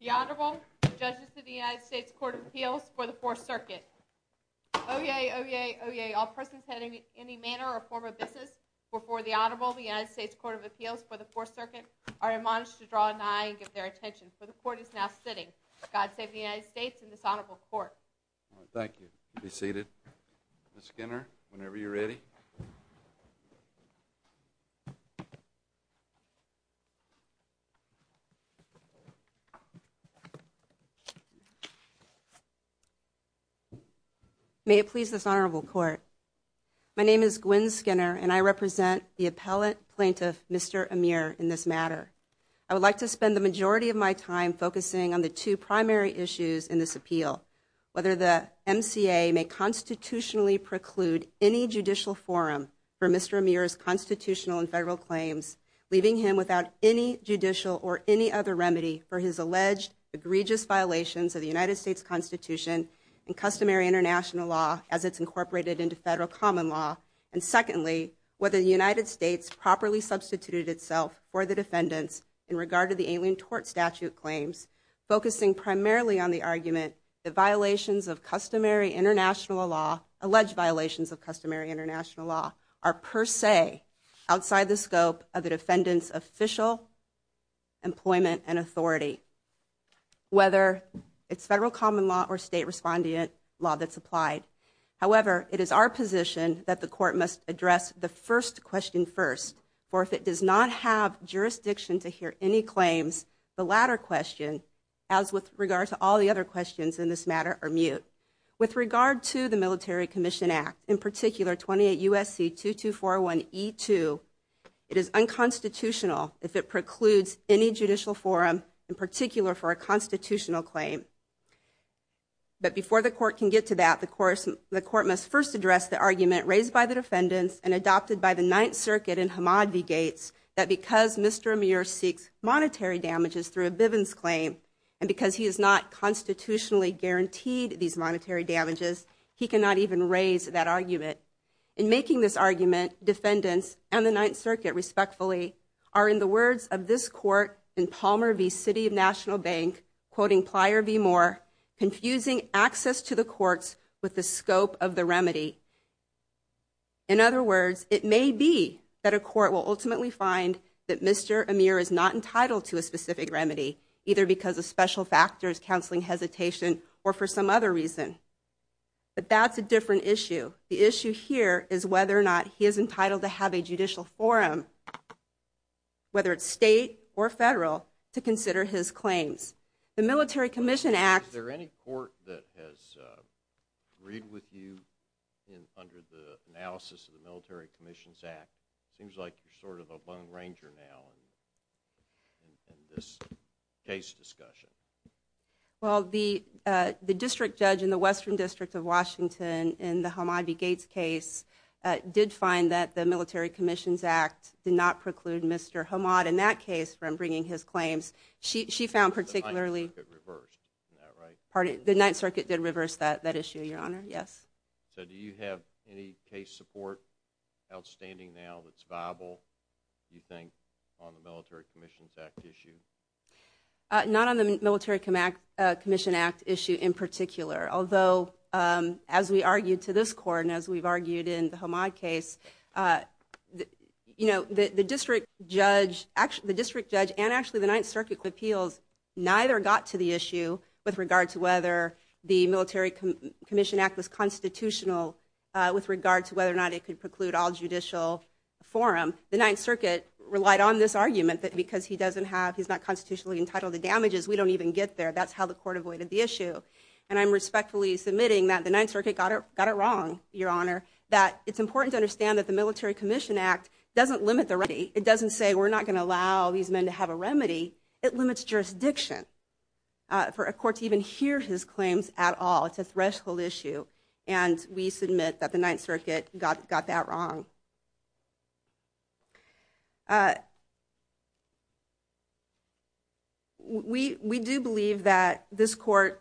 The Honorable, the Judges of the United States Court of Appeals for the Fourth Circuit. Oyez, oyez, oyez, all persons heading in any manner or form of business before the Honorable, the United States Court of Appeals for the Fourth Circuit, are admonished to draw an eye and give their attention. For the Court is now sitting. God save the United States and this Honorable Court. Thank you. You may be seated. Ms. Skinner, whenever you're ready. May it please this Honorable Court, my name is Gwen Skinner and I represent the appellate plaintiff, Mr. Ameur, in this matter. I would like to spend the majority of my time focusing on the two primary issues in this preclude any judicial forum for Mr. Ameur's constitutional and federal claims, leaving him without any judicial or any other remedy for his alleged egregious violations of the United States Constitution and customary international law as it's incorporated into federal common law. And secondly, whether the United States properly substituted itself for the defendants in regard to the Alien Tort Statute claims, focusing primarily on the argument that violations of customary international law, alleged violations of customary international law, are per se outside the scope of the defendants official employment and authority. Whether it's federal common law or state respondent law that's applied. However, it is our position that the Court must address the first question first. For if it does not have jurisdiction to hear any claims, the latter question, as with regard to all the other questions in this matter, are mute. With regard to the Military Commission Act, in particular 28 U.S.C. 2241E2, it is unconstitutional if it precludes any judicial forum, in particular for a constitutional claim. But before the Court can get to that, the Court must first address the argument raised by the defendants and adopted by the Ninth Circuit in Hamad v. Gates that because Mr. Bivens' claim and because he has not constitutionally guaranteed these monetary damages, he cannot even raise that argument. In making this argument, defendants and the Ninth Circuit, respectfully, are, in the words of this Court in Palmer v. City of National Bank, quoting Plyer v. Moore, confusing access to the courts with the scope of the remedy. In other words, it may be that a court will ultimately find that Mr. Amir is not entitled to a specific remedy, either because of special factors, counseling hesitation, or for some other reason. But that's a different issue. The issue here is whether or not he is entitled to have a judicial forum, whether it's state or federal, to consider his claims. The Military Commission Act- Is there any court that has agreed with you under the analysis of the Military Commissions Act? It seems like you're sort of a lone ranger now in this case discussion. Well, the District Judge in the Western District of Washington in the Hamad v. Gates case did find that the Military Commissions Act did not preclude Mr. Hamad in that case from bringing his claims. She found particularly- The Ninth Circuit reversed that, right? Pardon? The Ninth Circuit did reverse that issue, Your Honor. Yes. So do you have any case support outstanding now that's viable, do you think, on the Military Commissions Act issue? Not on the Military Commission Act issue in particular, although as we argued to this court and as we've argued in the Hamad case, the District Judge and actually the Ninth Circuit appeals neither got to the issue with regard to whether the Military Commission Act was constitutional with regard to whether or not it could preclude all judicial forum. The Ninth Circuit relied on this argument that because he doesn't have- he's not constitutionally entitled to damages, we don't even get there. That's how the court avoided the issue. And I'm respectfully submitting that the Ninth Circuit got it wrong, Your Honor, that it's important to understand that the Military Commission Act doesn't limit the remedy. It doesn't say we're not going to allow these men to have a remedy. It limits jurisdiction for a court to even hear his claims at all. It's a threshold issue and we submit that the Ninth Circuit got that wrong. We do believe that this court,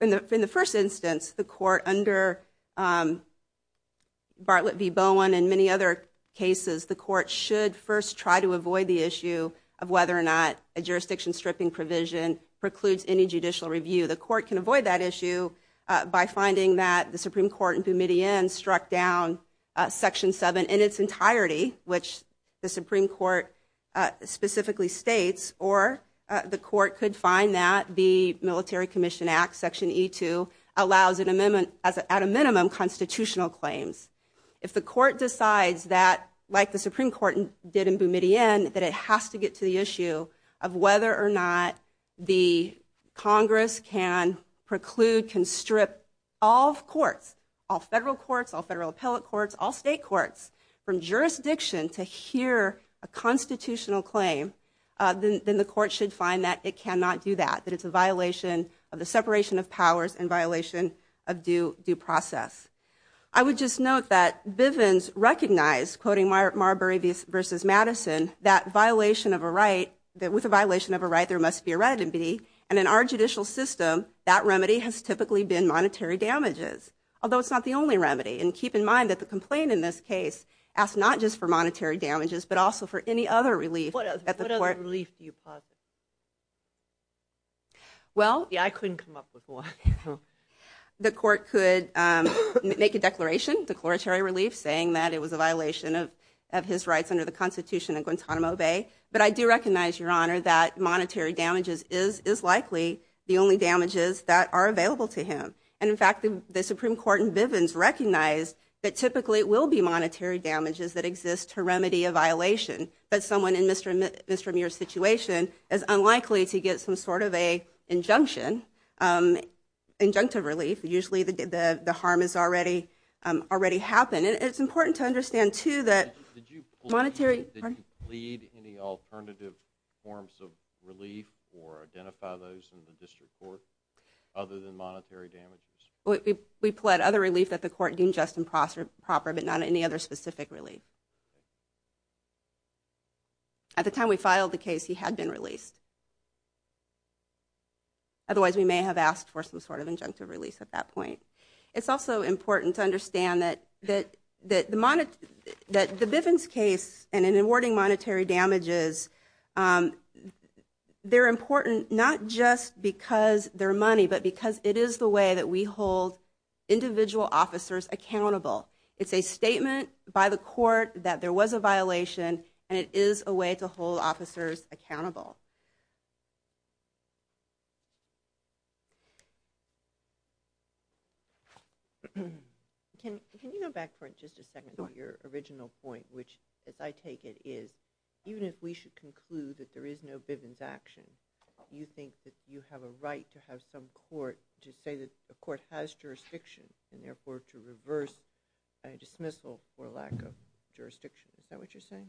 in the first instance, the court under Bartlett v. Bowen and many other cases, the court should first try to avoid the issue of whether or not a jurisdiction stripping provision precludes any judicial review. The court can avoid that issue by finding that the Supreme Court in Boumediene struck down Section 7 in its entirety, which the Supreme Court specifically states, or the court could find that the Military Commission Act, Section E2, allows at a minimum constitutional claims. If the court decides that, like the Supreme Court did in Boumediene, that it has to get to the issue of whether or not the Congress can preclude, can strip all courts, all federal courts, all federal appellate courts, all state courts, from jurisdiction to hear a constitutional claim, then the court should find that it cannot do that, that it's a violation of the separation of powers and violation of due process. I would just note that Bivens recognized, quoting Marbury v. Madison, that violation of a right, that with a violation of a right there must be a remedy, and in our judicial system that remedy has typically been monetary damages, although it's not the only remedy. And keep in mind that the complaint in this case asks not just for monetary damages, but also for any other relief at the court. What other relief do you propose? Well... Yeah, I couldn't come up with one. The court could make a declaration, declaratory relief, saying that it was a violation of his rights under the Constitution of Guantanamo Bay, but I do recognize, Your Honor, that monetary damages is likely the only damages that are available to him. And in fact, the Supreme Court in Bivens recognized that typically it will be monetary damages that exist to remedy a violation, but someone in Mr. Muir's situation is unlikely to get some sort of an injunction, injunctive relief, usually the harm has already happened. And it's important to understand, too, that monetary... Did you plead any alternative forms of relief or identify those in the district court other than monetary damages? We pled other relief that the court deemed just and proper, but not any other specific relief. At the time we filed the case, he had been released, otherwise we may have asked for some sort of injunctive release at that point. It's also important to understand that the Bivens case and in awarding monetary damages, they're important not just because they're money, but because it is the way that we hold individual officers accountable. It's a statement by the court that there was a violation, and it is a way to hold officers accountable. Can you go back for just a second to your original point, which, as I take it, is even if we should conclude that there is no Bivens action, you think that you have a right to have some court to say that the court has jurisdiction, and therefore to reverse a dismissal for lack of jurisdiction. Is that what you're saying?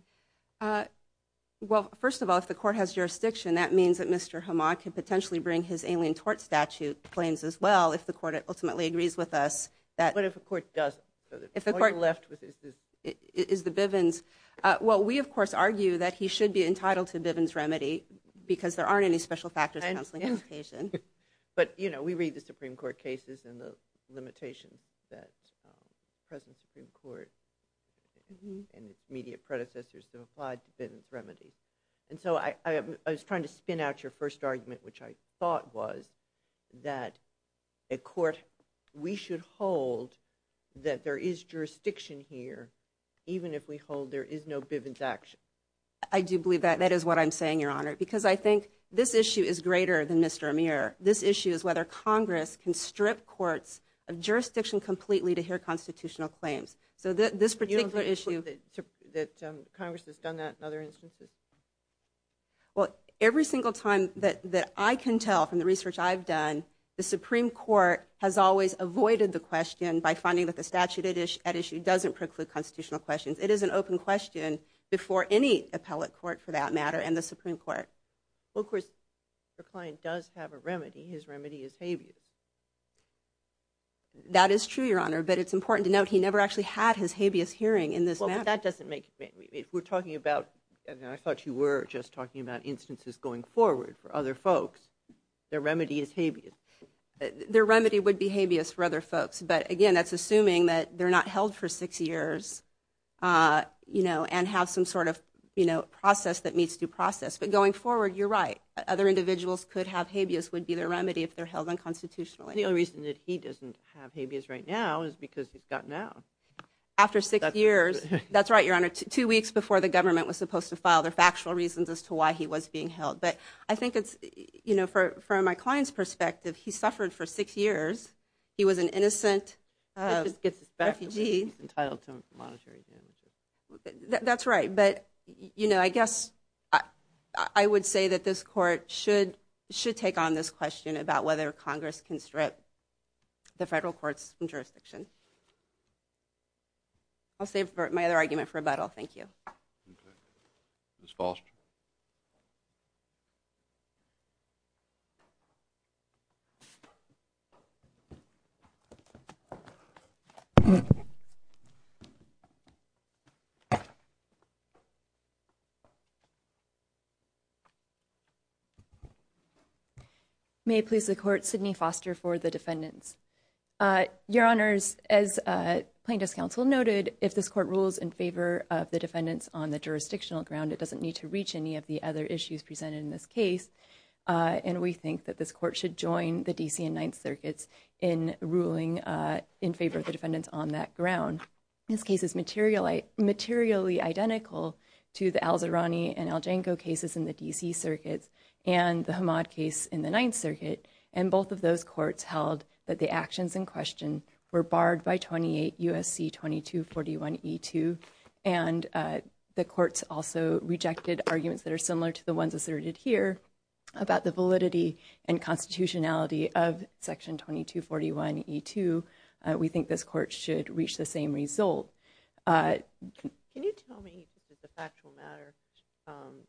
Well, first of all, if the court has jurisdiction, that means that Mr. Hamad can potentially bring his alien tort statute claims as well, if the court ultimately agrees with us. But if the court doesn't, all you're left with is the Bivens. Well, we, of course, argue that he should be entitled to a Bivens remedy, because there aren't any special factors in the counseling application. But you know, we read the Supreme Court cases and the limitations that the present Supreme Court and its immediate predecessors have applied to Bivens remedies. And so I was trying to spin out your first argument, which I thought was that a court we should hold that there is jurisdiction here, even if we hold there is no Bivens action. I do believe that. That is what I'm saying, Your Honor, because I think this issue is greater than Mr. Amir. This issue is whether Congress can strip courts of jurisdiction completely to hear constitutional claims. So this particular issue— You don't think that Congress has done that in other instances? Well, every single time that I can tell from the research I've done, the Supreme Court has always avoided the question by finding that the statute at issue doesn't preclude constitutional questions. It is an open question before any appellate court, for that matter, and the Supreme Court. Well, of course, the client does have a remedy. His remedy is habeas. That is true, Your Honor. But it's important to note he never actually had his habeas hearing in this matter. Well, but that doesn't make—we're talking about—and I thought you were just talking about instances going forward for other folks. Their remedy is habeas. Their remedy would be habeas for other folks, but again, that's assuming that they're not held for six years, you know, and have some sort of, you know, process that meets due process. But going forward, you're right. Other individuals could have habeas would be their remedy if they're held unconstitutionally. The only reason that he doesn't have habeas right now is because he's got now. After six years. That's right, Your Honor. Two weeks before the government was supposed to file their factual reasons as to why he was being held. But I think it's, you know, from my client's perspective, he suffered for six years. He was an innocent refugee. He gets his back entitled to monetary damages. That's right. But, you know, I guess I would say that this court should take on this question about whether Congress can strip the federal courts from jurisdiction. I'll save my other argument for rebuttal. Thank you. Okay. Ms. Foster? May it please the court, Sidney Foster for the defendants. Your Honors, as plaintiff's counsel noted, if this court rules in favor of the defendants on the jurisdictional ground, it doesn't need to reach any of the other issues presented in this case. And we think that this court should join the D.C. and Ninth Circuits in ruling in favor of the defendants on that ground. This case is materially, materially identical to the Al-Zahrani and Al-Janko cases in the D.C. circuits and the Hamad case in the Ninth Circuit. And both of those courts held that the actions in question were barred by 28 U.S.C. 2241 E.2. And the courts also rejected arguments that are similar to the ones asserted here about the validity and constitutionality of Section 2241 E.2. We think this court should reach the same result. Can you tell me, just as a factual matter,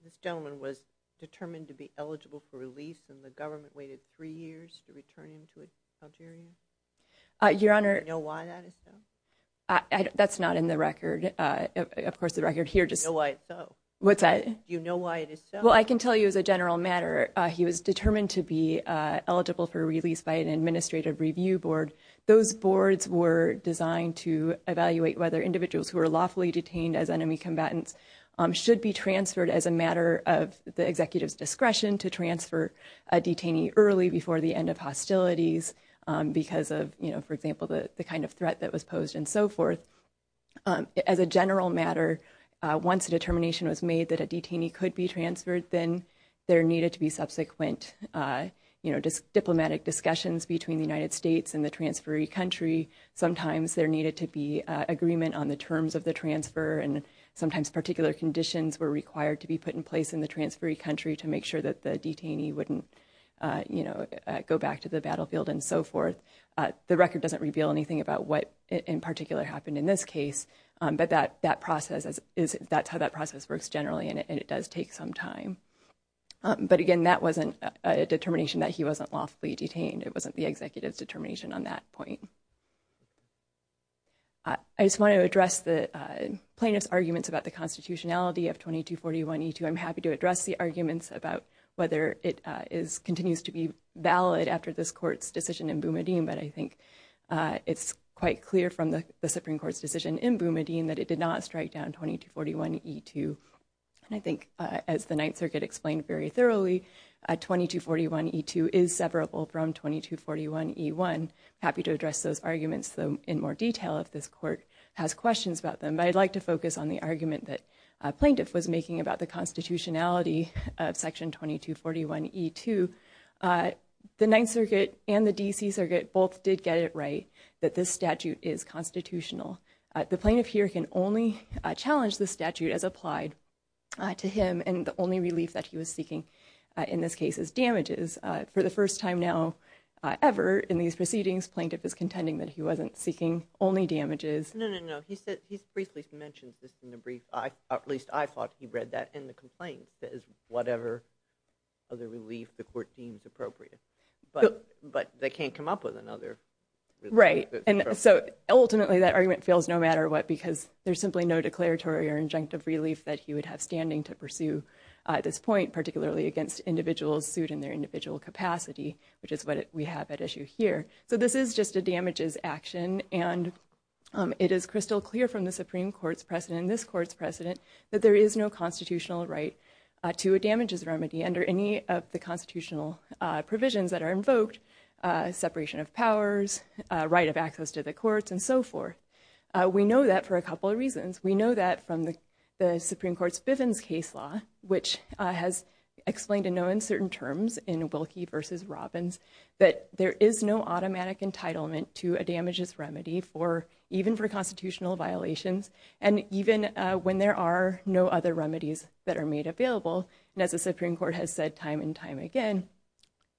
this gentleman was determined to be eligible for release and the government waited three years to return him to Algeria? Your Honor. Do you know why that is so? That's not in the record. Of course, the record here just – Do you know why it's so? What's that? Do you know why it is so? Well, I can tell you as a general matter, he was determined to be eligible for release by an administrative review board. Those boards were designed to evaluate whether individuals who were lawfully detained as enemy combatants should be transferred as a matter of the executive's discretion to transfer a detainee early before the end of hostilities because of, you know, for example, the kind of threat that was posed and so forth. As a general matter, once a determination was made that a detainee could be transferred, then there needed to be subsequent, you know, diplomatic discussions between the United States and the transferee country. Sometimes there needed to be agreement on the terms of the transfer and sometimes particular conditions were required to be put in place in the transferee country to make sure that the detainee wouldn't, you know, go back to the battlefield and so forth. The record doesn't reveal anything about what in particular happened in this case, but that process is, that's how that process works generally and it does take some time. But again, that wasn't a determination that he wasn't lawfully detained. It wasn't the executive's determination on that point. I just want to address the plaintiff's arguments about the constitutionality of 2241E2. I'm happy to address the arguments about whether it continues to be valid after this court's decision in Boumediene, but I think it's quite clear from the Supreme Court's decision in Boumediene that it did not strike down 2241E2. And I think as the Ninth Circuit explained very thoroughly, 2241E2 is severable from 2241E1. I'm happy to address those arguments, though, in more detail if this court has questions about them. But I'd like to focus on the argument that a plaintiff was making about the constitutionality of Section 2241E2. The Ninth Circuit and the D.C. Circuit both did get it right that this statute is constitutional. The plaintiff here can only challenge the statute as applied to him and the only relief that he was seeking in this case is damages. For the first time now ever in these proceedings, plaintiff is contending that he wasn't seeking only damages. No, no, no. He said, he briefly mentioned this in the brief. At least I thought he read that in the complaint. It says whatever other relief the court deems appropriate. But they can't come up with another. Right. And so ultimately that argument fails no matter what because there's simply no declaratory or injunctive relief that he would have standing to pursue at this point, particularly against individuals sued in their individual capacity, which is what we have at issue here. So this is just a damages action. And it is crystal clear from the Supreme Court's precedent and this court's precedent that there is no constitutional right to a damages remedy under any of the constitutional provisions that are invoked, separation of powers, right of access to the courts and so forth. We know that for a couple of reasons. We know that from the Supreme Court's Bivens case law, which has explained in no uncertain terms in Wilkie v. Robbins, that there is no automatic entitlement to a damages remedy even for constitutional violations and even when there are no other remedies that are made available. And as the Supreme Court has said time and time again,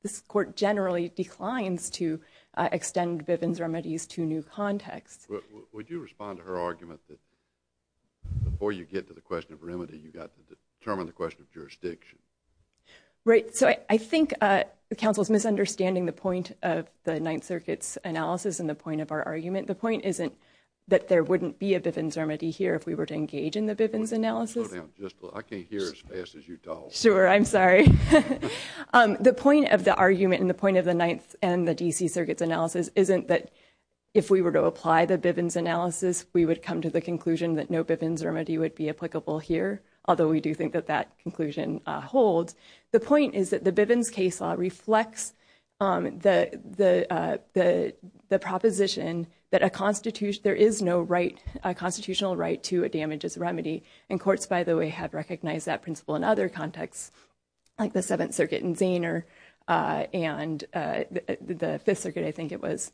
this court generally declines to extend Bivens remedies to new contexts. Would you respond to her argument that before you get to the question of remedy, you've got to determine the question of jurisdiction? Right. The point isn't that there wouldn't be a Bivens remedy here if we were to engage in the Bivens analysis. Slow down just a little. I can't hear as fast as you talk. Sure. I'm sorry. The point of the argument and the point of the Ninth and the D.C. Circuit's analysis isn't that if we were to apply the Bivens analysis, we would come to the conclusion that no Bivens remedy would be applicable here, although we do think that that conclusion holds. The point is that the Bivens case law reflects the proposition that there is no constitutional right to a damages remedy. And courts, by the way, have recognized that principle in other contexts like the Seventh Circuit in Zaner and the Fifth Circuit, I think it was,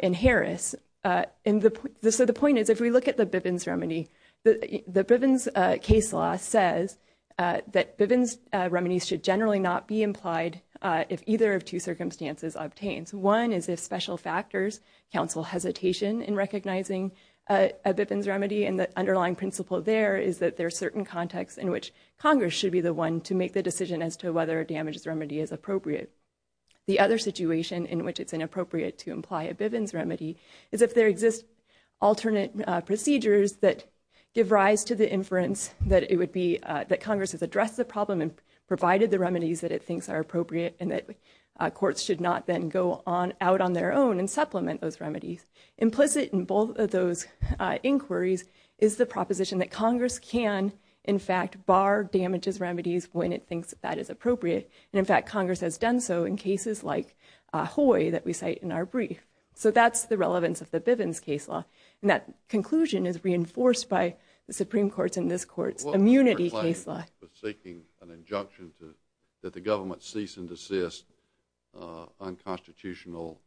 in Harris. So the point is if we look at the Bivens remedy, the Bivens case law says that Bivens remedies should generally not be implied if either of two circumstances obtains. One is if special factors counsel hesitation in recognizing a Bivens remedy, and the underlying principle there is that there are certain contexts in which Congress should be the one to make the decision as to whether a damages remedy is appropriate. The other situation in which it's inappropriate to imply a Bivens remedy is if there exist alternate procedures that give rise to the inference that Congress has addressed the remedies that it thinks are appropriate and that courts should not then go out on their own and supplement those remedies. Implicit in both of those inquiries is the proposition that Congress can, in fact, bar damages remedies when it thinks that is appropriate. And in fact, Congress has done so in cases like Hoy that we cite in our brief. So that's the relevance of the Bivens case law. And that conclusion is reinforced by the Supreme Court's and this Court's immunity case law. If a plaintiff is seeking an injunction that the government cease and desist unconstitutional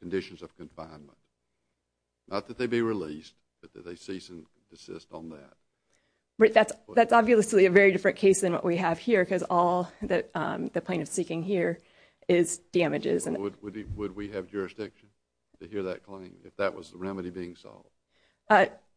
conditions of confinement, not that they be released, but that they cease and desist on that. Right. That's obviously a very different case than what we have here because all that the plaintiff is seeking here is damages. Would we have jurisdiction to hear that claim if that was the remedy being solved?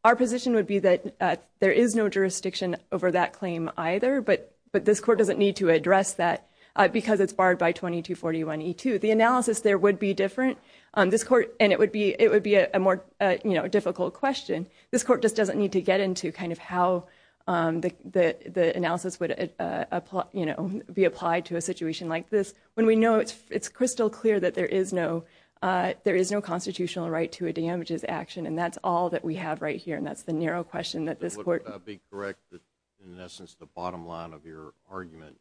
Our position would be that there is no jurisdiction over that claim either, but this Court doesn't need to address that because it's barred by 2241E2. The analysis there would be different on this Court and it would be a more difficult question. This Court just doesn't need to get into kind of how the analysis would be applied to a situation like this when we know it's crystal clear that there is no constitutional right to a damages action. And that's all that we have right here. And that's the narrow question that this Court... Would I be correct that in essence the bottom line of your argument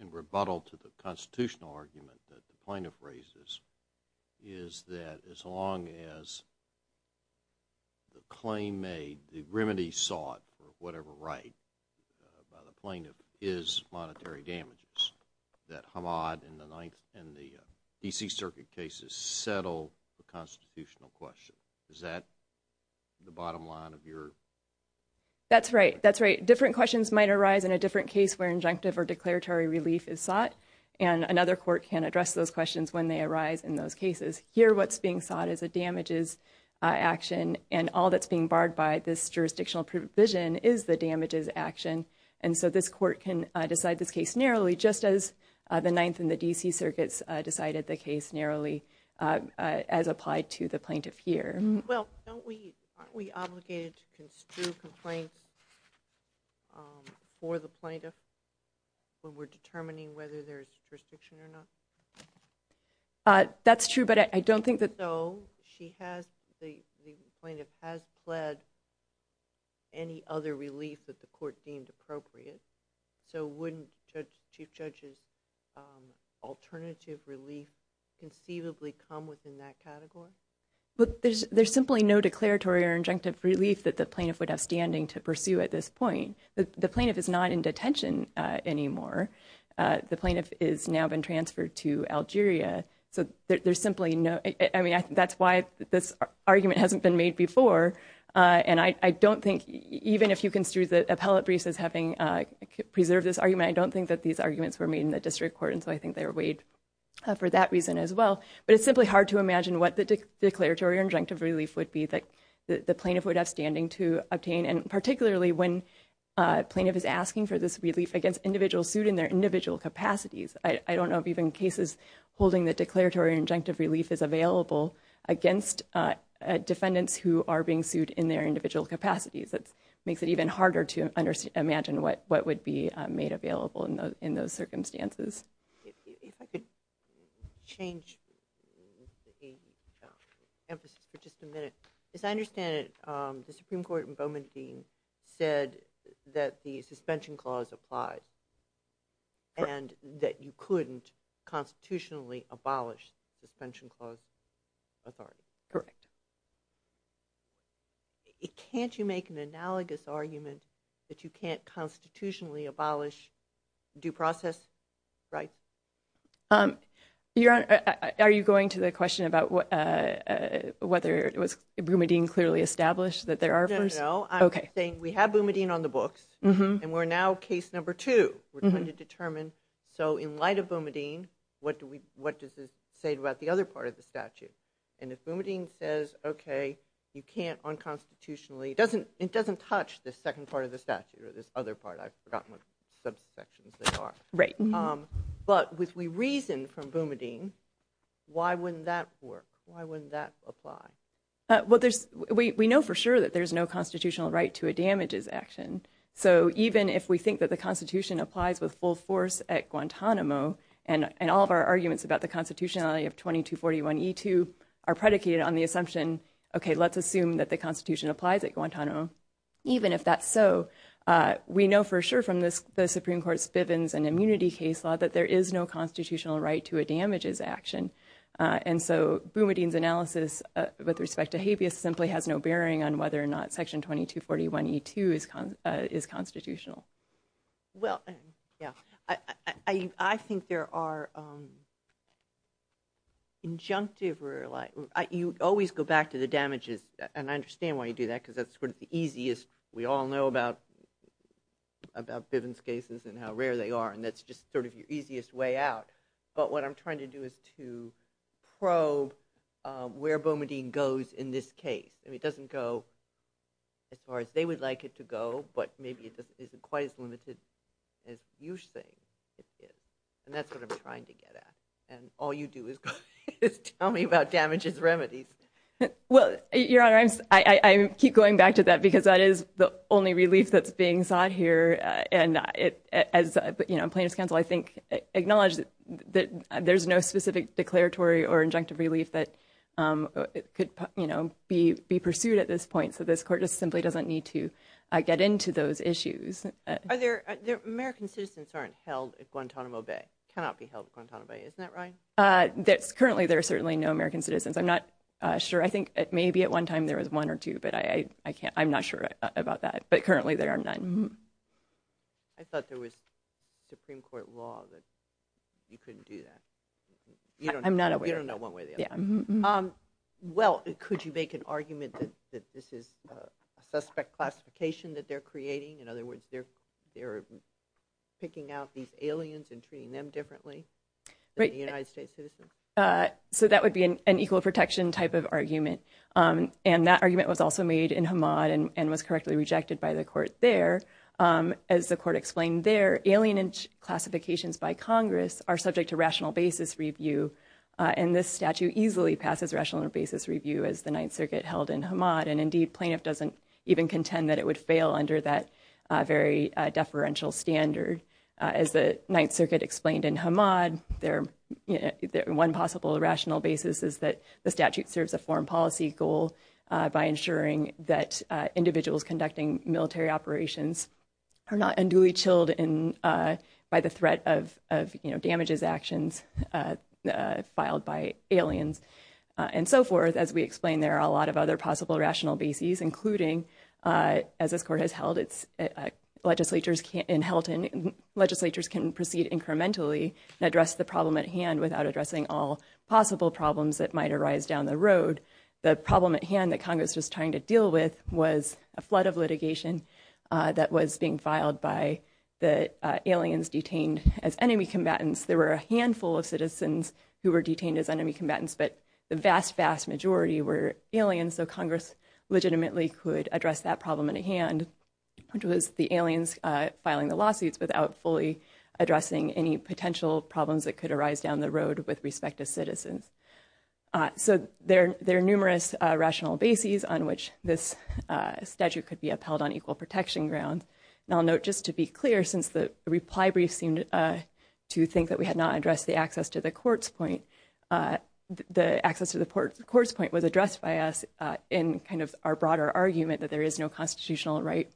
in rebuttal to the constitutional argument that the plaintiff raises is that as long as the claim made, the remedy sought for whatever right by the plaintiff is monetary damages, that Hamad and the DC Circuit cases settle the constitutional question. Is that the bottom line of your... That's right. That's right. Different questions might arise in a different case where injunctive or declaratory relief is sought and another Court can address those questions when they arise in those cases. Here what's being sought is a damages action and all that's being barred by this jurisdictional provision is the damages action. And so this Court can decide this case narrowly just as the Ninth and the DC Circuits decided the case narrowly as applied to the plaintiff here. Well, don't we... Aren't we obligated to construe complaints for the plaintiff when we're determining whether there's jurisdiction or not? That's true, but I don't think that... So she has... The plaintiff has pled any other relief that the Court deemed appropriate, so wouldn't the Chief Judge's alternative relief conceivably come within that category? There's simply no declaratory or injunctive relief that the plaintiff would have standing to pursue at this point. The plaintiff is not in detention anymore. The plaintiff has now been transferred to Algeria, so there's simply no... That's why this argument hasn't been made before and I don't think... Even if you construe the appellate briefs as having preserved this argument, I don't think that these arguments were made in the District Court, and so I think they were weighed for that reason as well. But it's simply hard to imagine what the declaratory or injunctive relief would be that the plaintiff would have standing to obtain, and particularly when a plaintiff is asking for this relief against individuals sued in their individual capacities. I don't know of even cases holding that declaratory or injunctive relief is available against defendants who are being sued in their individual capacities. It makes it even harder to imagine what would be made available in those circumstances. If I could change the emphasis for just a minute. As I understand it, the Supreme Court in Bowman v. Dean said that the suspension clause applies and that you couldn't constitutionally abolish the suspension clause authority. Correct. Can't you make an analogous argument that you can't constitutionally abolish due process rights? Are you going to the question about whether it was Bowman v. Dean clearly established that there are... No, no, no. I'm saying we have Bowman v. Dean on the books and we're now case number two. We're trying to determine, so in light of Bowman v. Dean, what does it say about the other part of the statute? And if Bowman v. Dean says, okay, you can't unconstitutionally, it doesn't touch the second part of the statute or this other part, I've forgotten what subsections they are. But if we reason from Bowman v. Dean, why wouldn't that work? Why wouldn't that apply? We know for sure that there's no constitutional right to a damages action. So even if we think that the Constitution applies with full force at Guantanamo and all of our arguments about the constitutionality of 2241E2 are predicated on the assumption, okay, let's assume that the Constitution applies at Guantanamo. Even if that's so, we know for sure from the Supreme Court's Bivens and immunity case law that there is no constitutional right to a damages action. And so Bowman v. Dean's analysis with respect to habeas simply has no bearing on whether or not section 2241E2 is constitutional. Well, yeah, I think there are injunctive, you always go back to the damages, and I understand why you do that because that's sort of the easiest. We all know about Bivens cases and how rare they are, and that's just sort of your easiest way out. But what I'm trying to do is to probe where Bowman v. Dean goes in this case. It doesn't go as far as they would like it to go, but maybe it isn't quite as limited as you're saying it is, and that's what I'm trying to get at. And all you do is tell me about damages remedies. Well, Your Honor, I keep going back to that because that is the only relief that's being sought here, and Plaintiff's Counsel, I think, acknowledged that there's no specific declaratory or injunctive relief that could be pursued at this point, so this Court just simply doesn't need to get into those issues. American citizens aren't held at Guantanamo Bay, cannot be held at Guantanamo Bay, isn't that right? Currently, there are certainly no American citizens. I'm not sure. I think maybe at one time there was one or two, but I'm not sure about that, but currently there are none. I thought there was Supreme Court law that you couldn't do that. I'm not aware. You don't know one way or the other. Well, could you make an argument that this is a suspect classification that they're creating? In other words, they're picking out these aliens and treating them differently than the United States citizens? So that would be an equal protection type of argument, and that argument was also made in Hamad and was correctly rejected by the Court there. As the Court explained there, alien classifications by Congress are subject to rational basis review, and this statute easily passes rational basis review as the Ninth Circuit held in Hamad, and indeed, plaintiff doesn't even contend that it would fail under that very deferential standard. As the Ninth Circuit explained in Hamad, one possible rational basis is that the statute are not unduly chilled by the threat of damages actions filed by aliens, and so forth. As we explained, there are a lot of other possible rational basis, including, as this Court has held, legislatures can proceed incrementally and address the problem at hand without addressing all possible problems that might arise down the road. The problem at hand that Congress was trying to deal with was a flood of litigation that was being filed by the aliens detained as enemy combatants. There were a handful of citizens who were detained as enemy combatants, but the vast, vast majority were aliens, so Congress legitimately could address that problem at hand, which was the aliens filing the lawsuits without fully addressing any potential problems that could arise down the road with respect to citizens. So, there are numerous rational basis on which this statute could be upheld on equal protection grounds, and I'll note just to be clear, since the reply brief seemed to think that we had not addressed the access to the court's point, the access to the court's point was addressed by us in kind of our broader argument that there is no constitutional right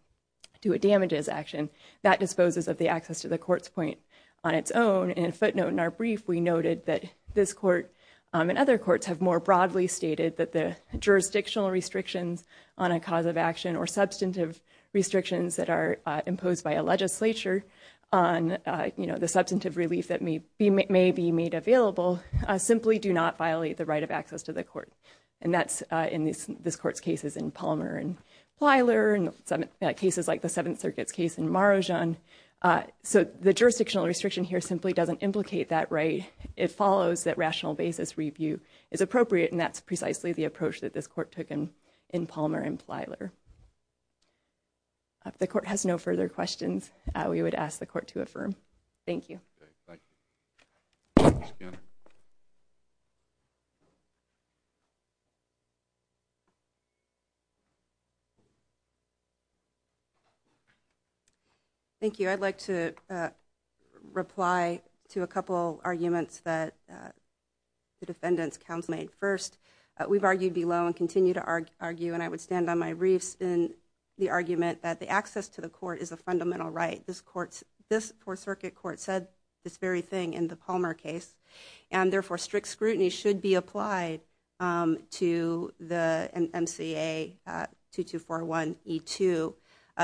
to a damages action that disposes of the access to the court's point on its own, and footnote in our brief, we noted that this court and other courts have more broadly stated that the jurisdictional restrictions on a cause of action or substantive restrictions that are imposed by a legislature on the substantive relief that may be made available simply do not violate the right of access to the court, and that's in this court's cases in Palmer and Plyler and cases like the Seventh Circuit's case in Marajan, so the jurisdictional restriction here simply doesn't implicate that right. It follows that rational basis review is appropriate, and that's precisely the approach that this court took in Palmer and Plyler. The court has no further questions. We would ask the court to affirm. Thank you. Thank you. I'd like to reply to a couple arguments that the defendant's counsel made. First, we've argued below and continue to argue, and I would stand on my reefs in the argument that the access to the court is a fundamental right. This court's circuit court said this very thing in the Palmer case, and therefore strict scrutiny should be applied to the MCA 2241E2.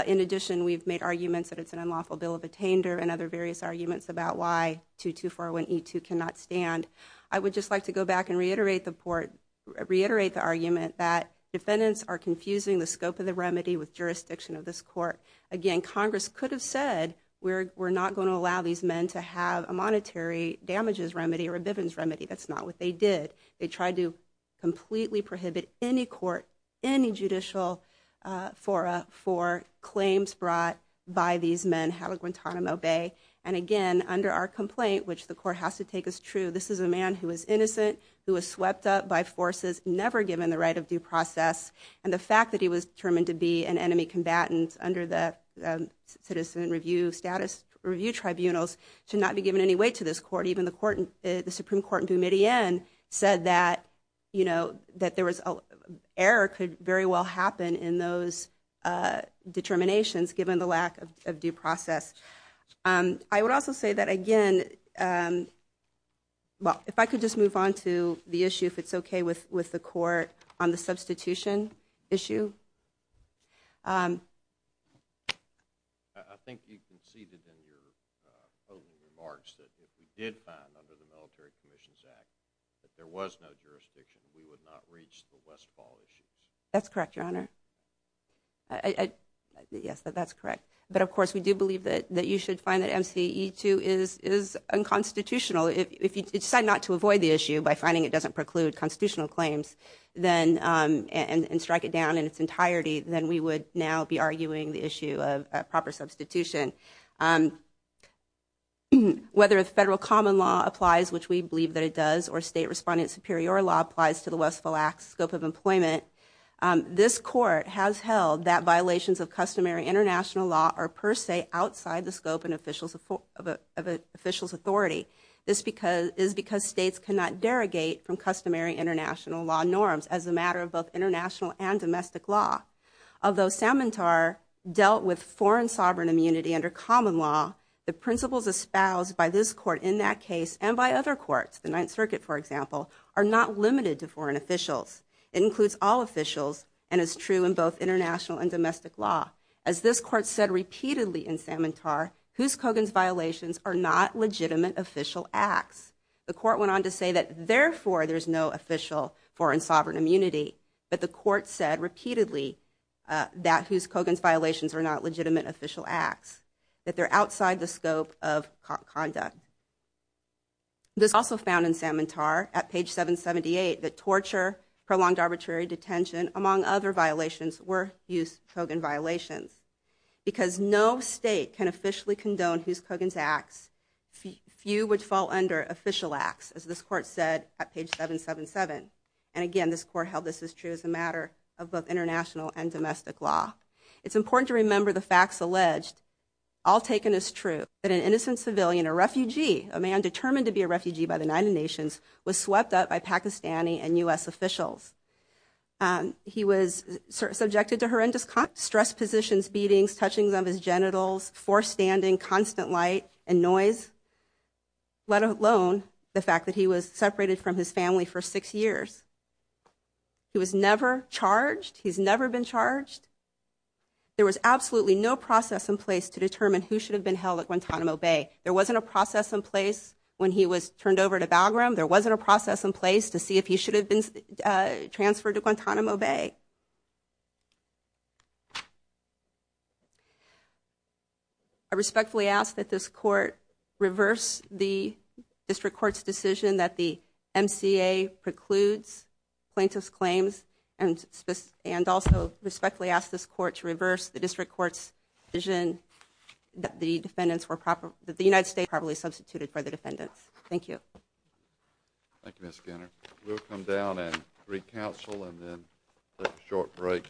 In addition, we've made arguments that it's an unlawful bill of attainder and other various arguments about why 2241E2 cannot stand. I would just like to go back and reiterate the argument that defendants are confusing the scope of the remedy with jurisdiction of this court. Again, Congress could have said, we're not going to allow these men to have a monetary damages remedy or a Bivens remedy. That's not what they did. They tried to completely prohibit any court, any judicial fora for claims brought by these men, have a Guantanamo Bay, and again, under our complaint, which the court has to take as true, this is a man who is innocent, who was swept up by forces, never given the right of due process, and the fact that he was determined to be an enemy combatant under the Citizen Review Tribunals should not be given any weight to this court. Even the Supreme Court in Boumediene said that error could very well happen in those determinations given the lack of due process. I would also say that, again, if I could just move on to the issue, if it's okay with the substitution issue. I think you conceded in your opening remarks that if we did find under the Military Commissions Act that there was no jurisdiction, we would not reach the Westfall issues. That's correct, Your Honor. Yes, that's correct. But, of course, we do believe that you should find that MCE 2 is unconstitutional. If you decide not to avoid the issue by finding it doesn't preclude constitutional claims and strike it down in its entirety, then we would now be arguing the issue of proper substitution. Whether a federal common law applies, which we believe that it does, or state respondent superior law applies to the Westfall Act's scope of employment, this court has held that is because states cannot derogate from customary international law norms as a matter of both international and domestic law. Although Samantar dealt with foreign sovereign immunity under common law, the principles espoused by this court in that case and by other courts, the Ninth Circuit, for example, are not limited to foreign officials. It includes all officials and is true in both international and domestic law. As this court said repeatedly in Samantar, Hoos Kogan's violations are not legitimate official acts. The court went on to say that therefore there's no official foreign sovereign immunity, but the court said repeatedly that Hoos Kogan's violations are not legitimate official acts, that they're outside the scope of conduct. This also found in Samantar at page 778 that torture, prolonged arbitrary detention, among other violations were Hoos Kogan violations. Because no state can officially condone Hoos Kogan's acts, few would fall under official acts, as this court said at page 777. And again, this court held this is true as a matter of both international and domestic law. It's important to remember the facts alleged, all taken as true, that an innocent civilian, a refugee, a man determined to be a refugee by the United Nations, was swept up by Pakistani and U.S. officials. He was subjected to horrendous stress positions, beatings, touching of his genitals, forced standing, constant light and noise, let alone the fact that he was separated from his family for six years. He was never charged. He's never been charged. There was absolutely no process in place to determine who should have been held at Guantanamo Bay. There wasn't a process in place when he was turned over to Bagram. There wasn't a process in place to see if he should have been transferred to Guantanamo Bay. I respectfully ask that this court reverse the district court's decision that the MCA precludes plaintiff's claims and also respectfully ask this court to reverse the district court's decision that the United States was properly substituted for the defendants. Thank you. Thank you, Ms. Skinner. We'll come down and re-counsel and then take a short break.